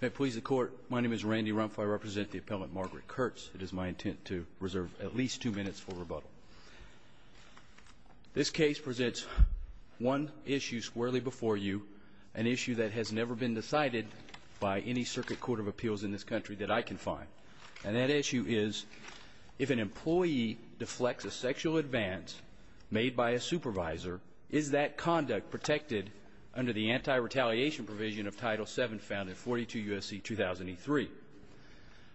If it pleases the Court, my name is Randy Rumpf. I represent the appellant Margaret Kurtz. It is my intent to reserve at least two minutes for rebuttal. This case presents one issue squarely before you, an issue that has never been decided by any circuit court of appeals in this country that I can find. And that issue is, if an employee deflects a sexual advance made by a supervisor, is that conduct protected under the anti-retaliation provision of Title VII found in 42 U.S.C. 2003?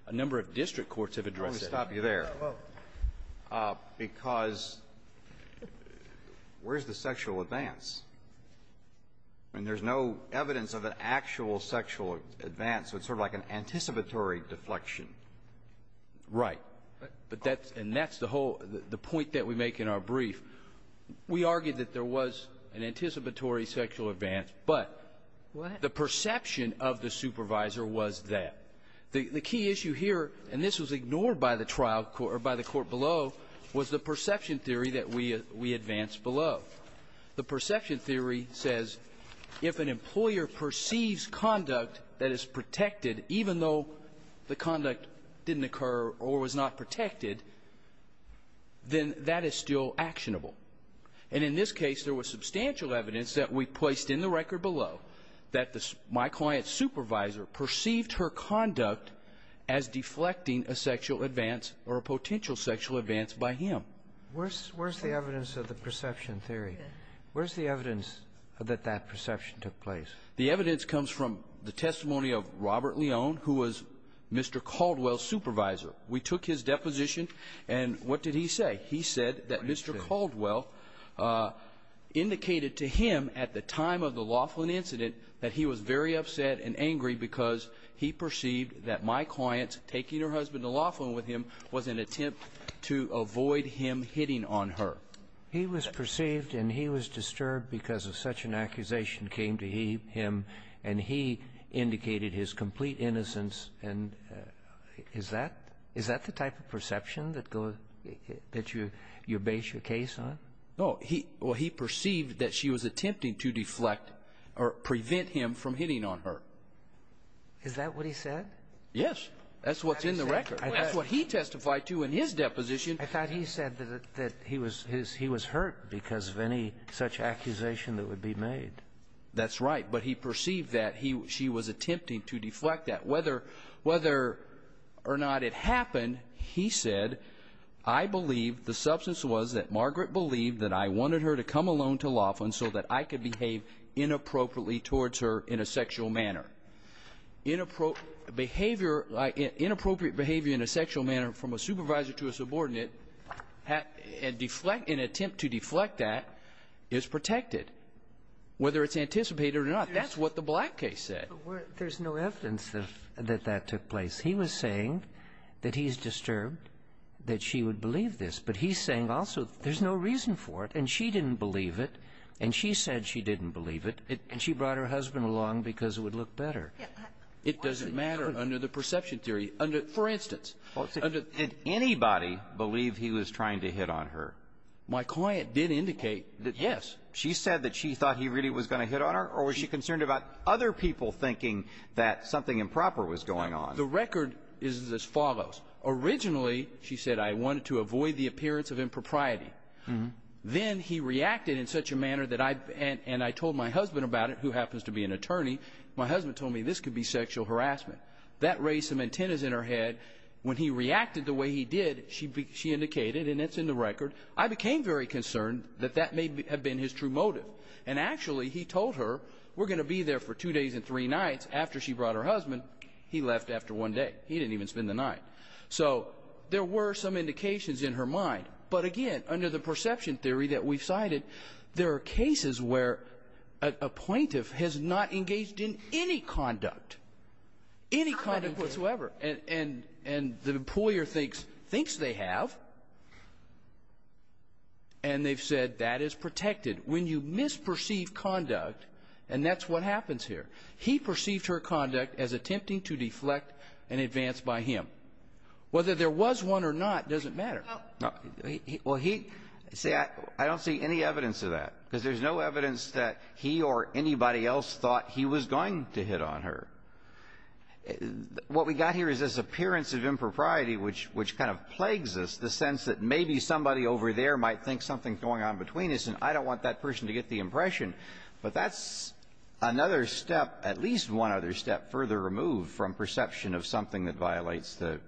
A number of district courts have addressed that. Let me stop you there, because where's the sexual advance? I mean, there's no evidence of an actual sexual advance, so it's sort of like an anticipatory deflection. Right. But that's – and that's the whole – the point that we make in our brief. We argued that there was an anticipatory sexual advance, but the perception of the supervisor was that. The key issue here, and this was ignored by the trial – or by the court below, was the perception theory that we advanced below. The perception theory says if an employer perceives conduct that is protected, even though the conduct didn't occur or was not protected, then that is still actionable. And in this case, there was substantial evidence that we placed in the record below that my client's supervisor perceived her conduct as deflecting a sexual advance or a potential sexual advance by him. Where's the evidence of the perception theory? Where's the evidence that that perception took place? The evidence comes from the testimony of Robert Leone, who was Mr. Caldwell's supervisor. We took his deposition, and what did he say? He said that Mr. Caldwell indicated to him at the time of the Laughlin incident that he was very upset and angry because he perceived that my client taking her husband to Laughlin with him was an attempt to avoid him hitting on her. He was perceived and he was disturbed because such an accusation came to him, and he indicated his complete innocence. And is that the type of perception that you base your case on? No. Well, he perceived that she was attempting to deflect or prevent him from hitting on her. Is that what he said? Yes. That's what's in the record. That's what he testified to in his deposition. I thought he said that he was hurt because of any such accusation that would be made. That's right. But he perceived that she was attempting to deflect that. Whether or not it happened, he said, I believe the substance was that Margaret believed that I wanted her to come alone to Laughlin so that I could behave inappropriately towards her in a sexual manner. Inappropriate behavior in a sexual manner from a supervisor to a subordinate and attempt to deflect that is protected, whether it's anticipated or not. That's what the Black case said. There's no evidence that that took place. He was saying that he's disturbed, that she would believe this, but he's saying also there's no reason for it, and she didn't believe it, and she said she didn't believe it, and she brought her husband along because it would look better. It doesn't matter under the perception theory. For instance, did anybody believe he was trying to hit on her? My client did indicate that, yes. She said that she thought he really was going to hit on her, or was she concerned about other people thinking that something improper was going on? The record is as follows. Originally, she said, I wanted to avoid the appearance of impropriety. Then he reacted in such a manner that I told my husband about it, who happens to be an attorney. My husband told me this could be sexual harassment. That raised some antennas in her head. When he reacted the way he did, she indicated, and it's in the record, I became very concerned that that may have been his true motive, and actually he told her we're going to be there for two days and three nights. After she brought her husband, he left after one day. He didn't even spend the night. So there were some indications in her mind. But again, under the perception theory that we've cited, there are cases where a plaintiff has not engaged in any conduct, any conduct whatsoever, and the employer thinks they have, and they've said that is protected. When you misperceive conduct, and that's what happens here, he perceived her conduct as attempting to deflect an advance by him. Whether there was one or not doesn't matter. No. Well, he – see, I don't see any evidence of that, because there's no evidence that he or anybody else thought he was going to hit on her. What we got here is this appearance of impropriety, which kind of plagues us, the sense that maybe somebody over there might think something's going on between us, and I don't want that person to get the impression. But that's another step, at least one other step, further removed from perception of something that violates the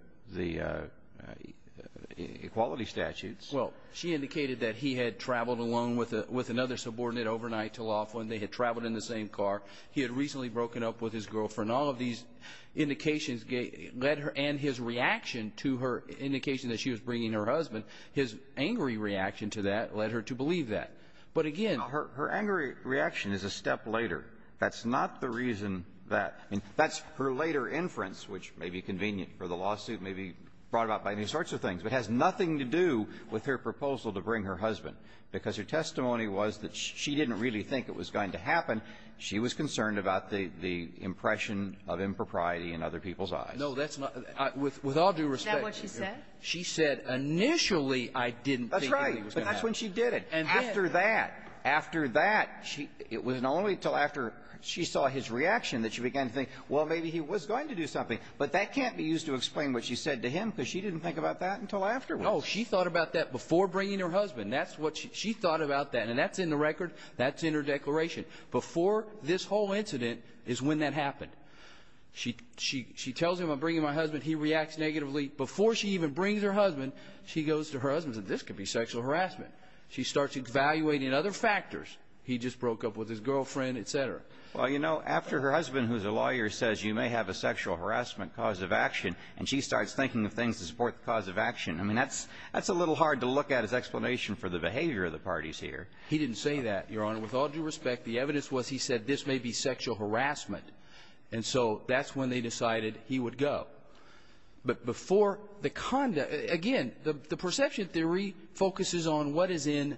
equality statutes. Well, she indicated that he had traveled alone with another subordinate overnight to Laughlin. They had traveled in the same car. He had recently broken up with his girlfriend. All of these indications led her – and his reaction to her indication that she was bringing her husband, his angry reaction to that led her to believe that. But again – Her angry reaction is a step later. That's not the reason that – I mean, that's her later inference, which may be convenient for the lawsuit, may be brought about by any sorts of things, but has nothing to do with her proposal to bring her husband. Because her testimony was that she didn't really think it was going to happen. She was concerned about the impression of impropriety in other people's eyes. No, that's not – with all due respect. Is that what she said? She said, initially, I didn't think it was going to happen. That's right. But that's when she did it. After that, after that, it wasn't only until after she saw his reaction that she began to think, well, maybe he was going to do something. But that can't be used to explain what she said to him because she didn't think about that until afterwards. No, she thought about that before bringing her husband. That's what – she thought about that. And that's in the record. That's in her declaration. Before this whole incident is when that happened. She tells him, I'm bringing my husband. He reacts negatively. Before she even brings her husband, she goes to her husband and says, this could be sexual harassment. She starts evaluating other factors. He just broke up with his girlfriend, et cetera. Well, you know, after her husband, who's a lawyer, says you may have a sexual harassment cause of action, and she starts thinking of things to support the cause of action, I mean, that's a little hard to look at as explanation for the behavior of the parties here. He didn't say that, Your Honor. With all due respect, the evidence was he said this may be sexual harassment. And so that's when they decided he would go. But before the conduct – again, the perception theory focuses on what is in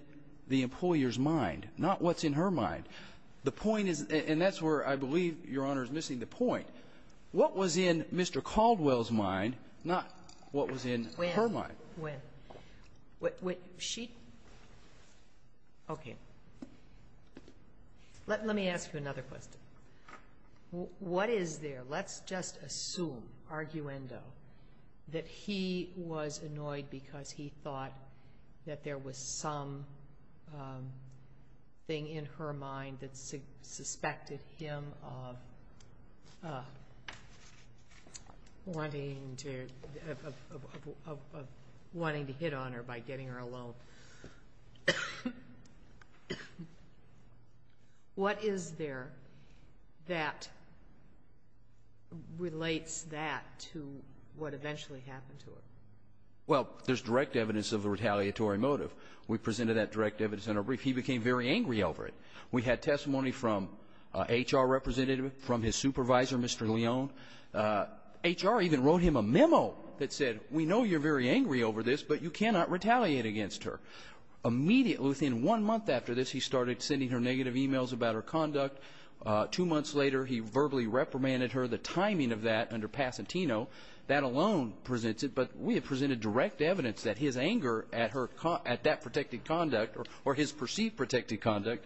the employer's mind, not what's in her mind. The point is – and that's where I believe, Your Honor, is missing the point. What was in Mr. Caldwell's mind, not what was in her mind? When? When? When she – okay. Let me ask you another question. What is there? Let's just assume, arguendo, that he was annoyed because he thought that there was something in her mind that suspected him of wanting to hit on her by getting her alone. What is there that relates that to what eventually happened to him? Well, there's direct evidence of a retaliatory motive. We presented that direct evidence in our brief. He became very angry over it. We had testimony from an HR representative, from his supervisor, Mr. Leone. HR even wrote him a memo that said, We know you're very angry over this, but you cannot retaliate against her. Immediately within one month after this, he started sending her negative emails about her conduct. Two months later, he verbally reprimanded her. The timing of that under Pasatino, that alone presents it. But we have presented direct evidence that his anger at her – at that protected conduct, or his perceived protected conduct,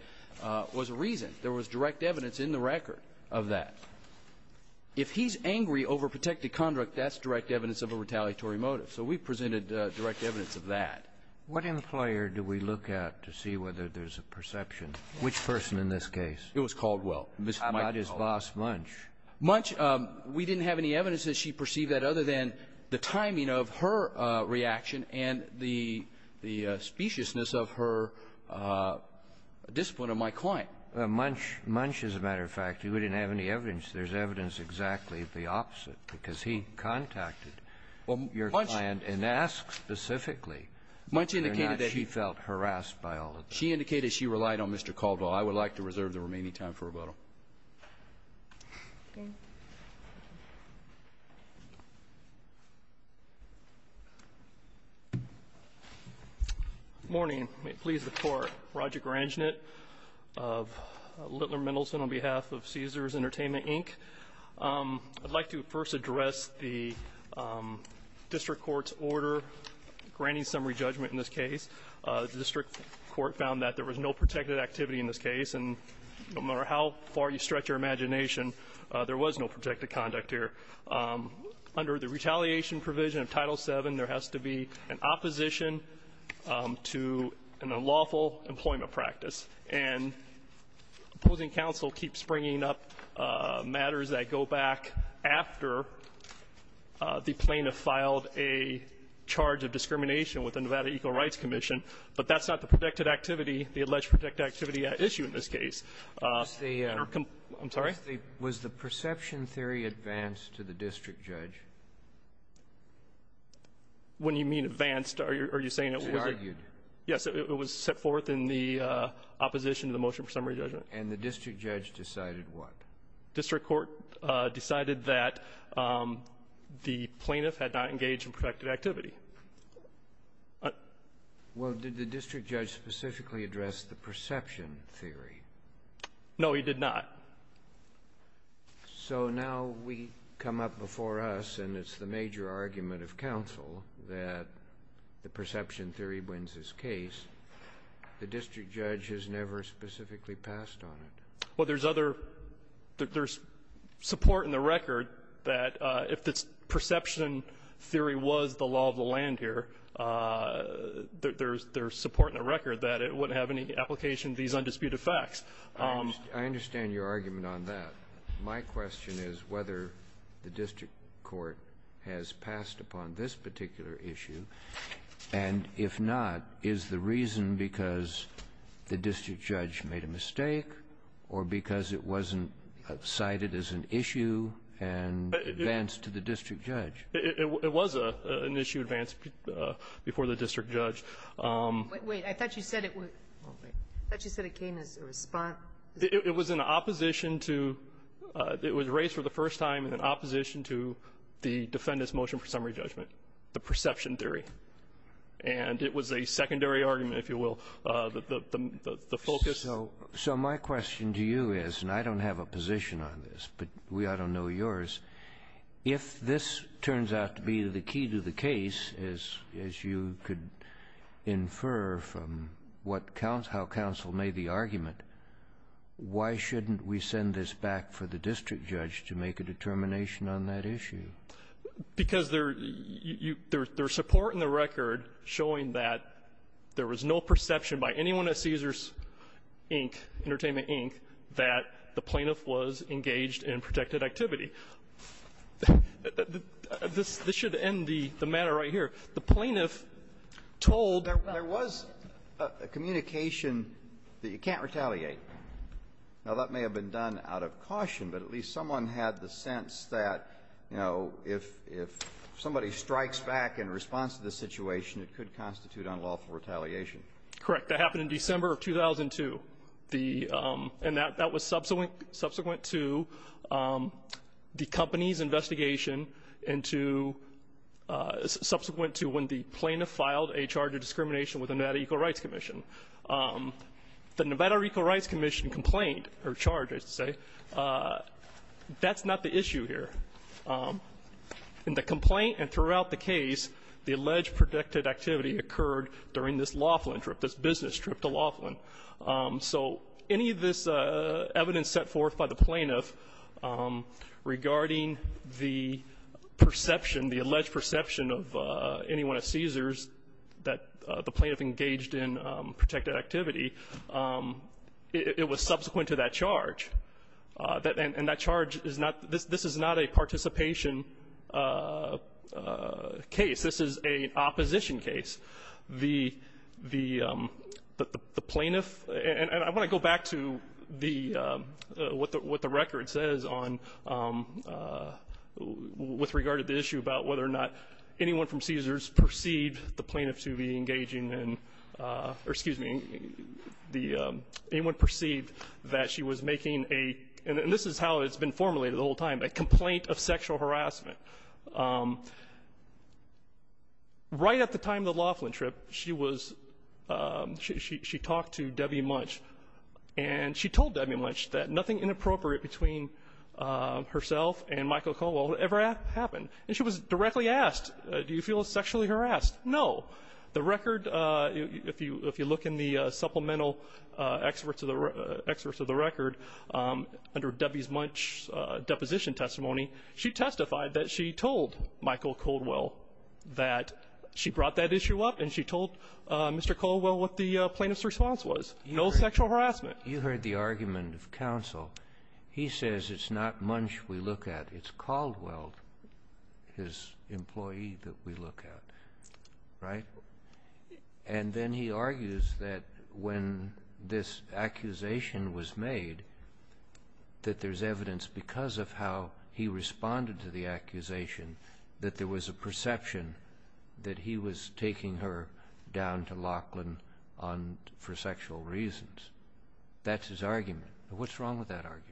was a reason. There was direct evidence in the record of that. If he's angry over protected conduct, that's direct evidence of a retaliatory motive. So we presented direct evidence of that. What employer do we look at to see whether there's a perception? Which person in this case? It was Caldwell. How about his boss, Munch? Munch, we didn't have any evidence that she perceived that, other than the timing of her reaction and the speciousness of her discipline of my client. Munch, as a matter of fact, we didn't have any evidence. There's evidence exactly the opposite, because he contacted your client and asked specifically whether or not she felt harassed by all of this. She indicated she relied on Mr. Caldwell. I would like to reserve the remaining time for rebuttal. Okay. Good morning. May it please the Court. Roger Granginet of Littler Mendelson on behalf of Caesars Entertainment, Inc. I'd like to first address the district court's order granting summary judgment in this case. The district court found that there was no protected activity in this case, and no matter how far you stretch your imagination, there was no protected conduct here. Under the retaliation provision of Title VII, there has to be an opposition to an unlawful employment practice. And opposing counsel keeps bringing up matters that go back after the plaintiff filed a charge of discrimination with the Nevada Equal Rights Commission, but that's not the protected activity, the alleged protected activity at issue in this case. I'm sorry? Was the perception theory advanced to the district judge? When you mean advanced, are you saying it was argued? Yes. It was set forth in the opposition to the motion for summary judgment. And the district judge decided what? District court decided that the plaintiff had not engaged in protected activity. Well, did the district judge specifically address the perception theory? No, he did not. So now we come up before us, and it's the major argument of counsel that the perception theory wins this case. The district judge has never specifically passed on it. Well, there's other – there's support in the record that if the perception theory was the law of the land here, there's support in the record that it wouldn't have any application to these undisputed facts. I understand your argument on that. My question is whether the district court has passed upon this particular issue. And if not, is the reason because the district judge made a mistake or because it wasn't cited as an issue and advanced to the district judge? It was an issue advanced before the district judge. Wait. I thought you said it was – I thought you said it came as a response. It was in opposition to – it was raised for the first time in opposition to the defendant's motion for summary judgment, the perception theory. And it was a secondary argument, if you will. The focus – So my question to you is – and I don't have a position on this, but we ought to know yours – if this turns out to be the key to the case, as you could infer from what – how counsel made the argument, why shouldn't we send this back for the Because there – there's support in the record showing that there was no perception by anyone at Caesars, Inc., Entertainment, Inc., that the plaintiff was engaged in protected activity. This should end the matter right here. The plaintiff told – There was a communication that you can't retaliate. Now, that may have been done out of caution, but at least someone had the sense that, you know, if somebody strikes back in response to this situation, it could constitute unlawful retaliation. Correct. That happened in December of 2002, and that was subsequent to the company's investigation and to – subsequent to when the plaintiff filed a charge of discrimination with the Nevada Equal Rights Commission. The Nevada Equal Rights Commission complaint – or charge, I should say – that's not the issue here. In the complaint and throughout the case, the alleged protected activity occurred during this Laughlin trip, this business trip to Laughlin. So any of this evidence set forth by the plaintiff regarding the perception, the alleged perception of any one of Cesar's that the plaintiff engaged in protected activity, it was subsequent to that charge. And that charge is not – this is not a participation case. This is an opposition case. The plaintiff – and I want to go back to the – what the record says on – with regard to the issue about whether or not anyone from Cesar's perceived the plaintiff to be engaging in – or, excuse me, anyone perceived that she was making a – and this is how it's been formulated the whole time – a complaint of sexual harassment. Right at the time of the Laughlin trip, she was – she talked to Debbie Munch, and she told Debbie Munch that nothing inappropriate between herself and Michael Caldwell ever happened. And she was directly asked, do you feel sexually harassed? No. The record – if you look in the supplemental excerpts of the record under Debbie Munch's deposition testimony, she testified that she told Michael Caldwell that she brought that issue up, and she told Mr. Caldwell what the plaintiff's response was. No sexual harassment. You heard the argument of counsel. He says it's not Munch we look at. It's Caldwell, his employee, that we look at. Right? And then he argues that when this accusation was made, that there's evidence because of how he responded to the accusation that there was a perception that he was taking her down to Laughlin for sexual reasons. That's his argument. What's wrong with that argument?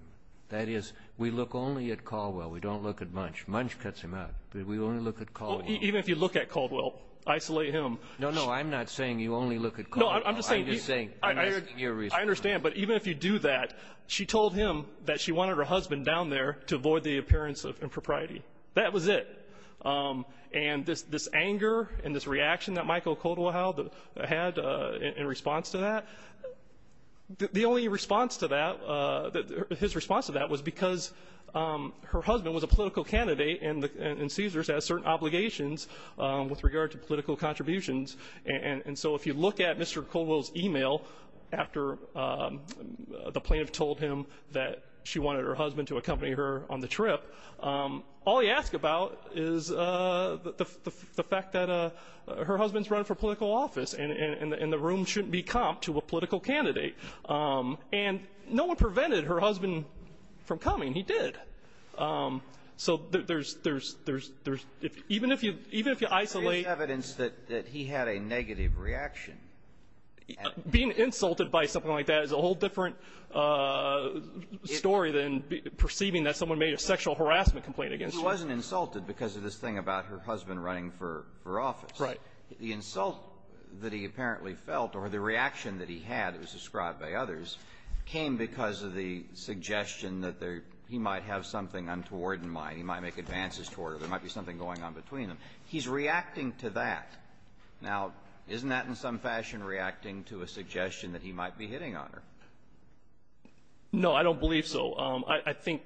That is, we look only at Caldwell. We don't look at Munch. Munch cuts him out. We only look at Caldwell. Even if you look at Caldwell, isolate him. No, no, I'm not saying you only look at Caldwell. No, I'm just saying – I'm just saying – I understand, but even if you do that, she told him that she wanted her husband down there to avoid the appearance of impropriety. That was it. And this anger and this reaction that Michael Caldwell had in response to that, the only response to that, his response to that, was because her husband was a political candidate and Caesars has certain obligations with regard to political contributions. And so if you look at Mr. Caldwell's email after the plaintiff told him that she wanted her husband to accompany her on the trip, all he asked about is the fact that her husband's running for political office and the room shouldn't be comped to a political candidate. And no one prevented her husband from coming. He did. So there's – even if you isolate – There is evidence that he had a negative reaction. Being insulted by something like that is a whole different story than perceiving that someone made a sexual harassment complaint against her. He wasn't insulted because of this thing about her husband running for office. Right. The insult that he apparently felt or the reaction that he had, as described by others, came because of the suggestion that there – he might have something untoward in mind. He might make advances toward her. There might be something going on between them. He's reacting to that. Now, isn't that in some fashion reacting to a suggestion that he might be hitting on her? No, I don't believe so. I think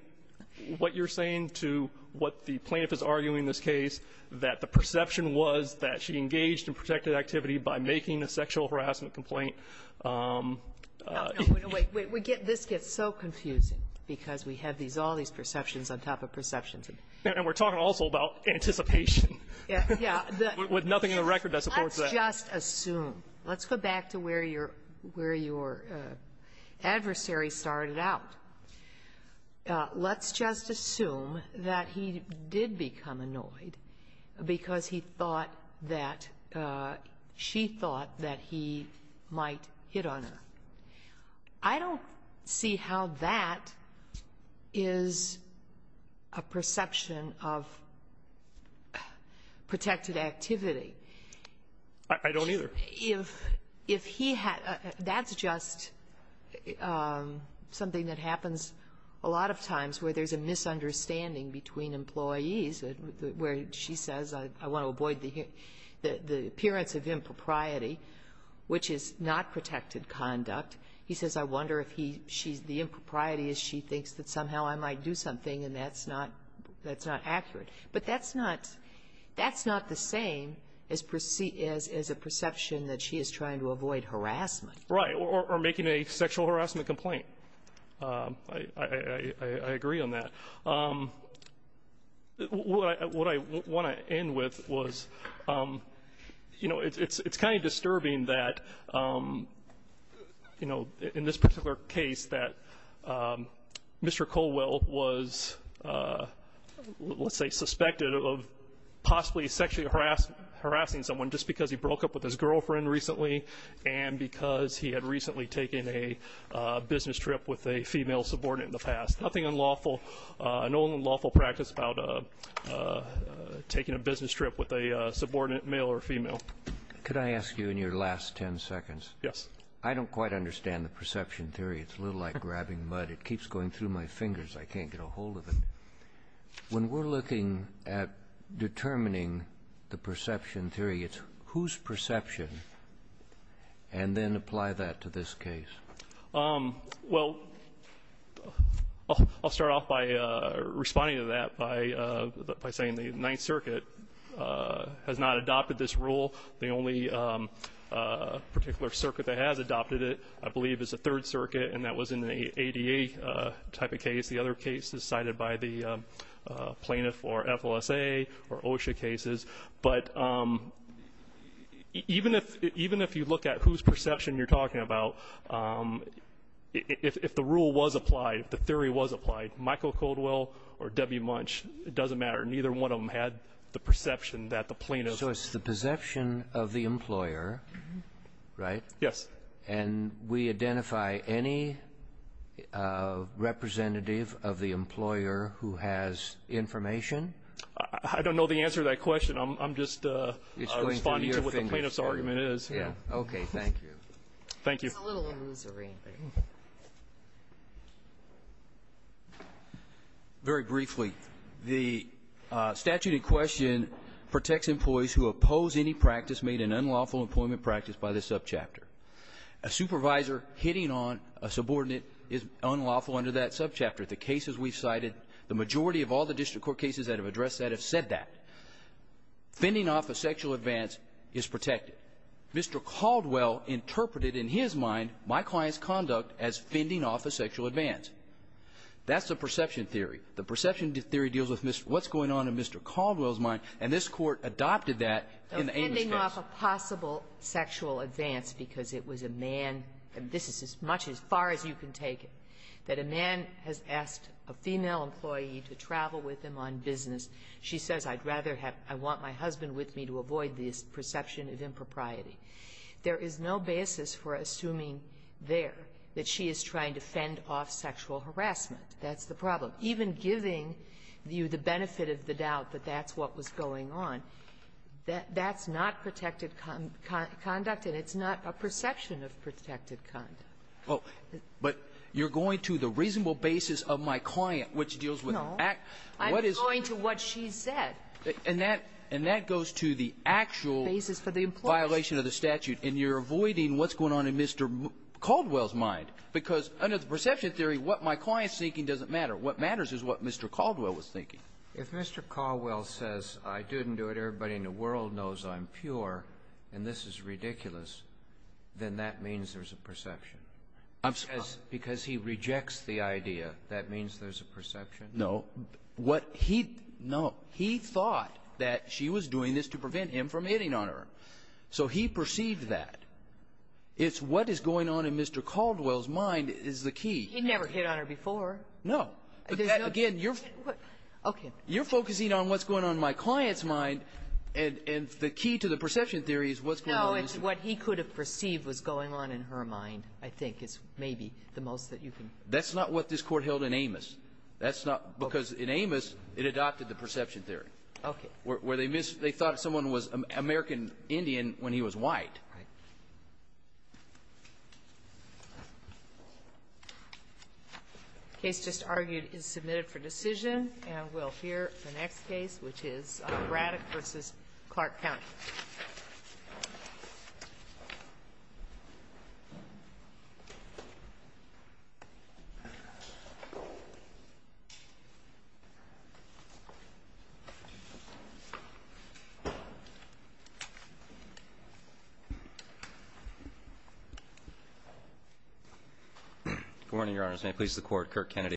what you're saying to what the plaintiff is arguing in this case, that the perception was that she engaged in protected activity by making a sexual harassment complaint. No, no. Wait. This gets so confusing because we have these – all these perceptions on top of perceptions. And we're talking also about anticipation. Yeah. With nothing in the record that supports that. Let's just assume. Let's go back to where your – where your adversary started out. Let's just assume that he did become annoyed because he thought that – she thought that he might hit on her. I don't see how that is a perception of protected activity. I don't either. If he – that's just something that happens a lot of times where there's a misunderstanding between employees, where she says, I want to avoid the appearance of impropriety, which is not protected conduct. He says, I wonder if he – she's – the impropriety is she thinks that somehow I might do something, and that's not – that's not accurate. But that's not – that's not the same as a perception that she is trying to avoid harassment. Right. Or making a sexual harassment complaint. I agree on that. What I want to end with was, you know, it's kind of disturbing that, you know, in this particular case that Mr. Colwell was, let's say, suspected of possibly sexually harassing someone just because he broke up with his girlfriend recently and because he had recently taken a business trip with a female subordinate in the past. Nothing unlawful – no unlawful practice about taking a business trip with a subordinate male or female. Could I ask you in your last ten seconds – Yes. I don't quite understand the perception theory. It's a little like grabbing mud. It keeps going through my fingers. I can't get a hold of it. When we're looking at determining the perception theory, it's whose perception, and then apply that to this case. Well, I'll start off by responding to that by saying the Ninth Circuit has not adopted this rule. The only particular circuit that has adopted it, I believe, is the Third Circuit, and that was in the ADA type of case. The other case is cited by the plaintiff or FLSA or OSHA cases. But even if you look at whose perception you're talking about, if the rule was applied, if the theory was applied, Michael Caldwell or Debbie Munch, it doesn't matter. Neither one of them had the perception that the plaintiff – So it's the perception of the employer, right? Yes. And we identify any representative of the employer who has information? I don't know the answer to that question. I'm just responding to what the plaintiff's argument is. Okay. Thank you. Thank you. It's a little illusory. Very briefly, the statute in question protects employees who oppose any practice made an unlawful employment practice by the subchapter. A supervisor hitting on a subordinate is unlawful under that subchapter. The cases we've cited, the majority of all the district court cases that have addressed that have said that. Fending off a sexual advance is protected. Mr. Caldwell interpreted in his mind my client's conduct as fending off a sexual advance. That's the perception theory. The perception theory deals with what's going on in Mr. Caldwell's mind, and this Court adopted that in the Amos case. Fending off a possible sexual advance because it was a man – and this is as much as far as you can take it – that a man has asked a female employee to travel with him on business, she says, I'd rather have – I want my husband with me to avoid this perception of impropriety. There is no basis for assuming there that she is trying to fend off sexual harassment. That's the problem. Even giving you the benefit of the doubt that that's what was going on, that's not protected conduct, and it's not a perception of protected conduct. Well, but you're going to the reasonable basis of my client, which deals with act – No. I'm going to what she said. And that – and that goes to the actual violation of the statute. Basis for the employee. And you're avoiding what's going on in Mr. Caldwell's mind, because under the perception theory, what my client's thinking doesn't matter. What matters is what Mr. Caldwell was thinking. If Mr. Caldwell says, I didn't do it. Everybody in the world knows I'm pure, and this is ridiculous, then that means there's a perception. Because he rejects the idea, that means there's a perception? No. What he – No. He thought that she was doing this to prevent him from hitting on her. So he perceived that. It's what is going on in Mr. Caldwell's mind is the key. He never hit on her before. No. Again, you're – Okay. You're focusing on what's going on in my client's mind, and the key to the perception theory is what's going on in his mind. No. It's what he could have perceived was going on in her mind, I think, is maybe the most that you can – That's not what this Court held in Amos. That's not – Okay. Because in Amos, it adopted the perception theory. Okay. Where they thought someone was American Indian when he was white. Right. The case just argued is submitted for decision. And we'll hear the next case, which is Braddock v. Clark County. Good morning, Your Honors. May it please the Court, Kirk Kennedy.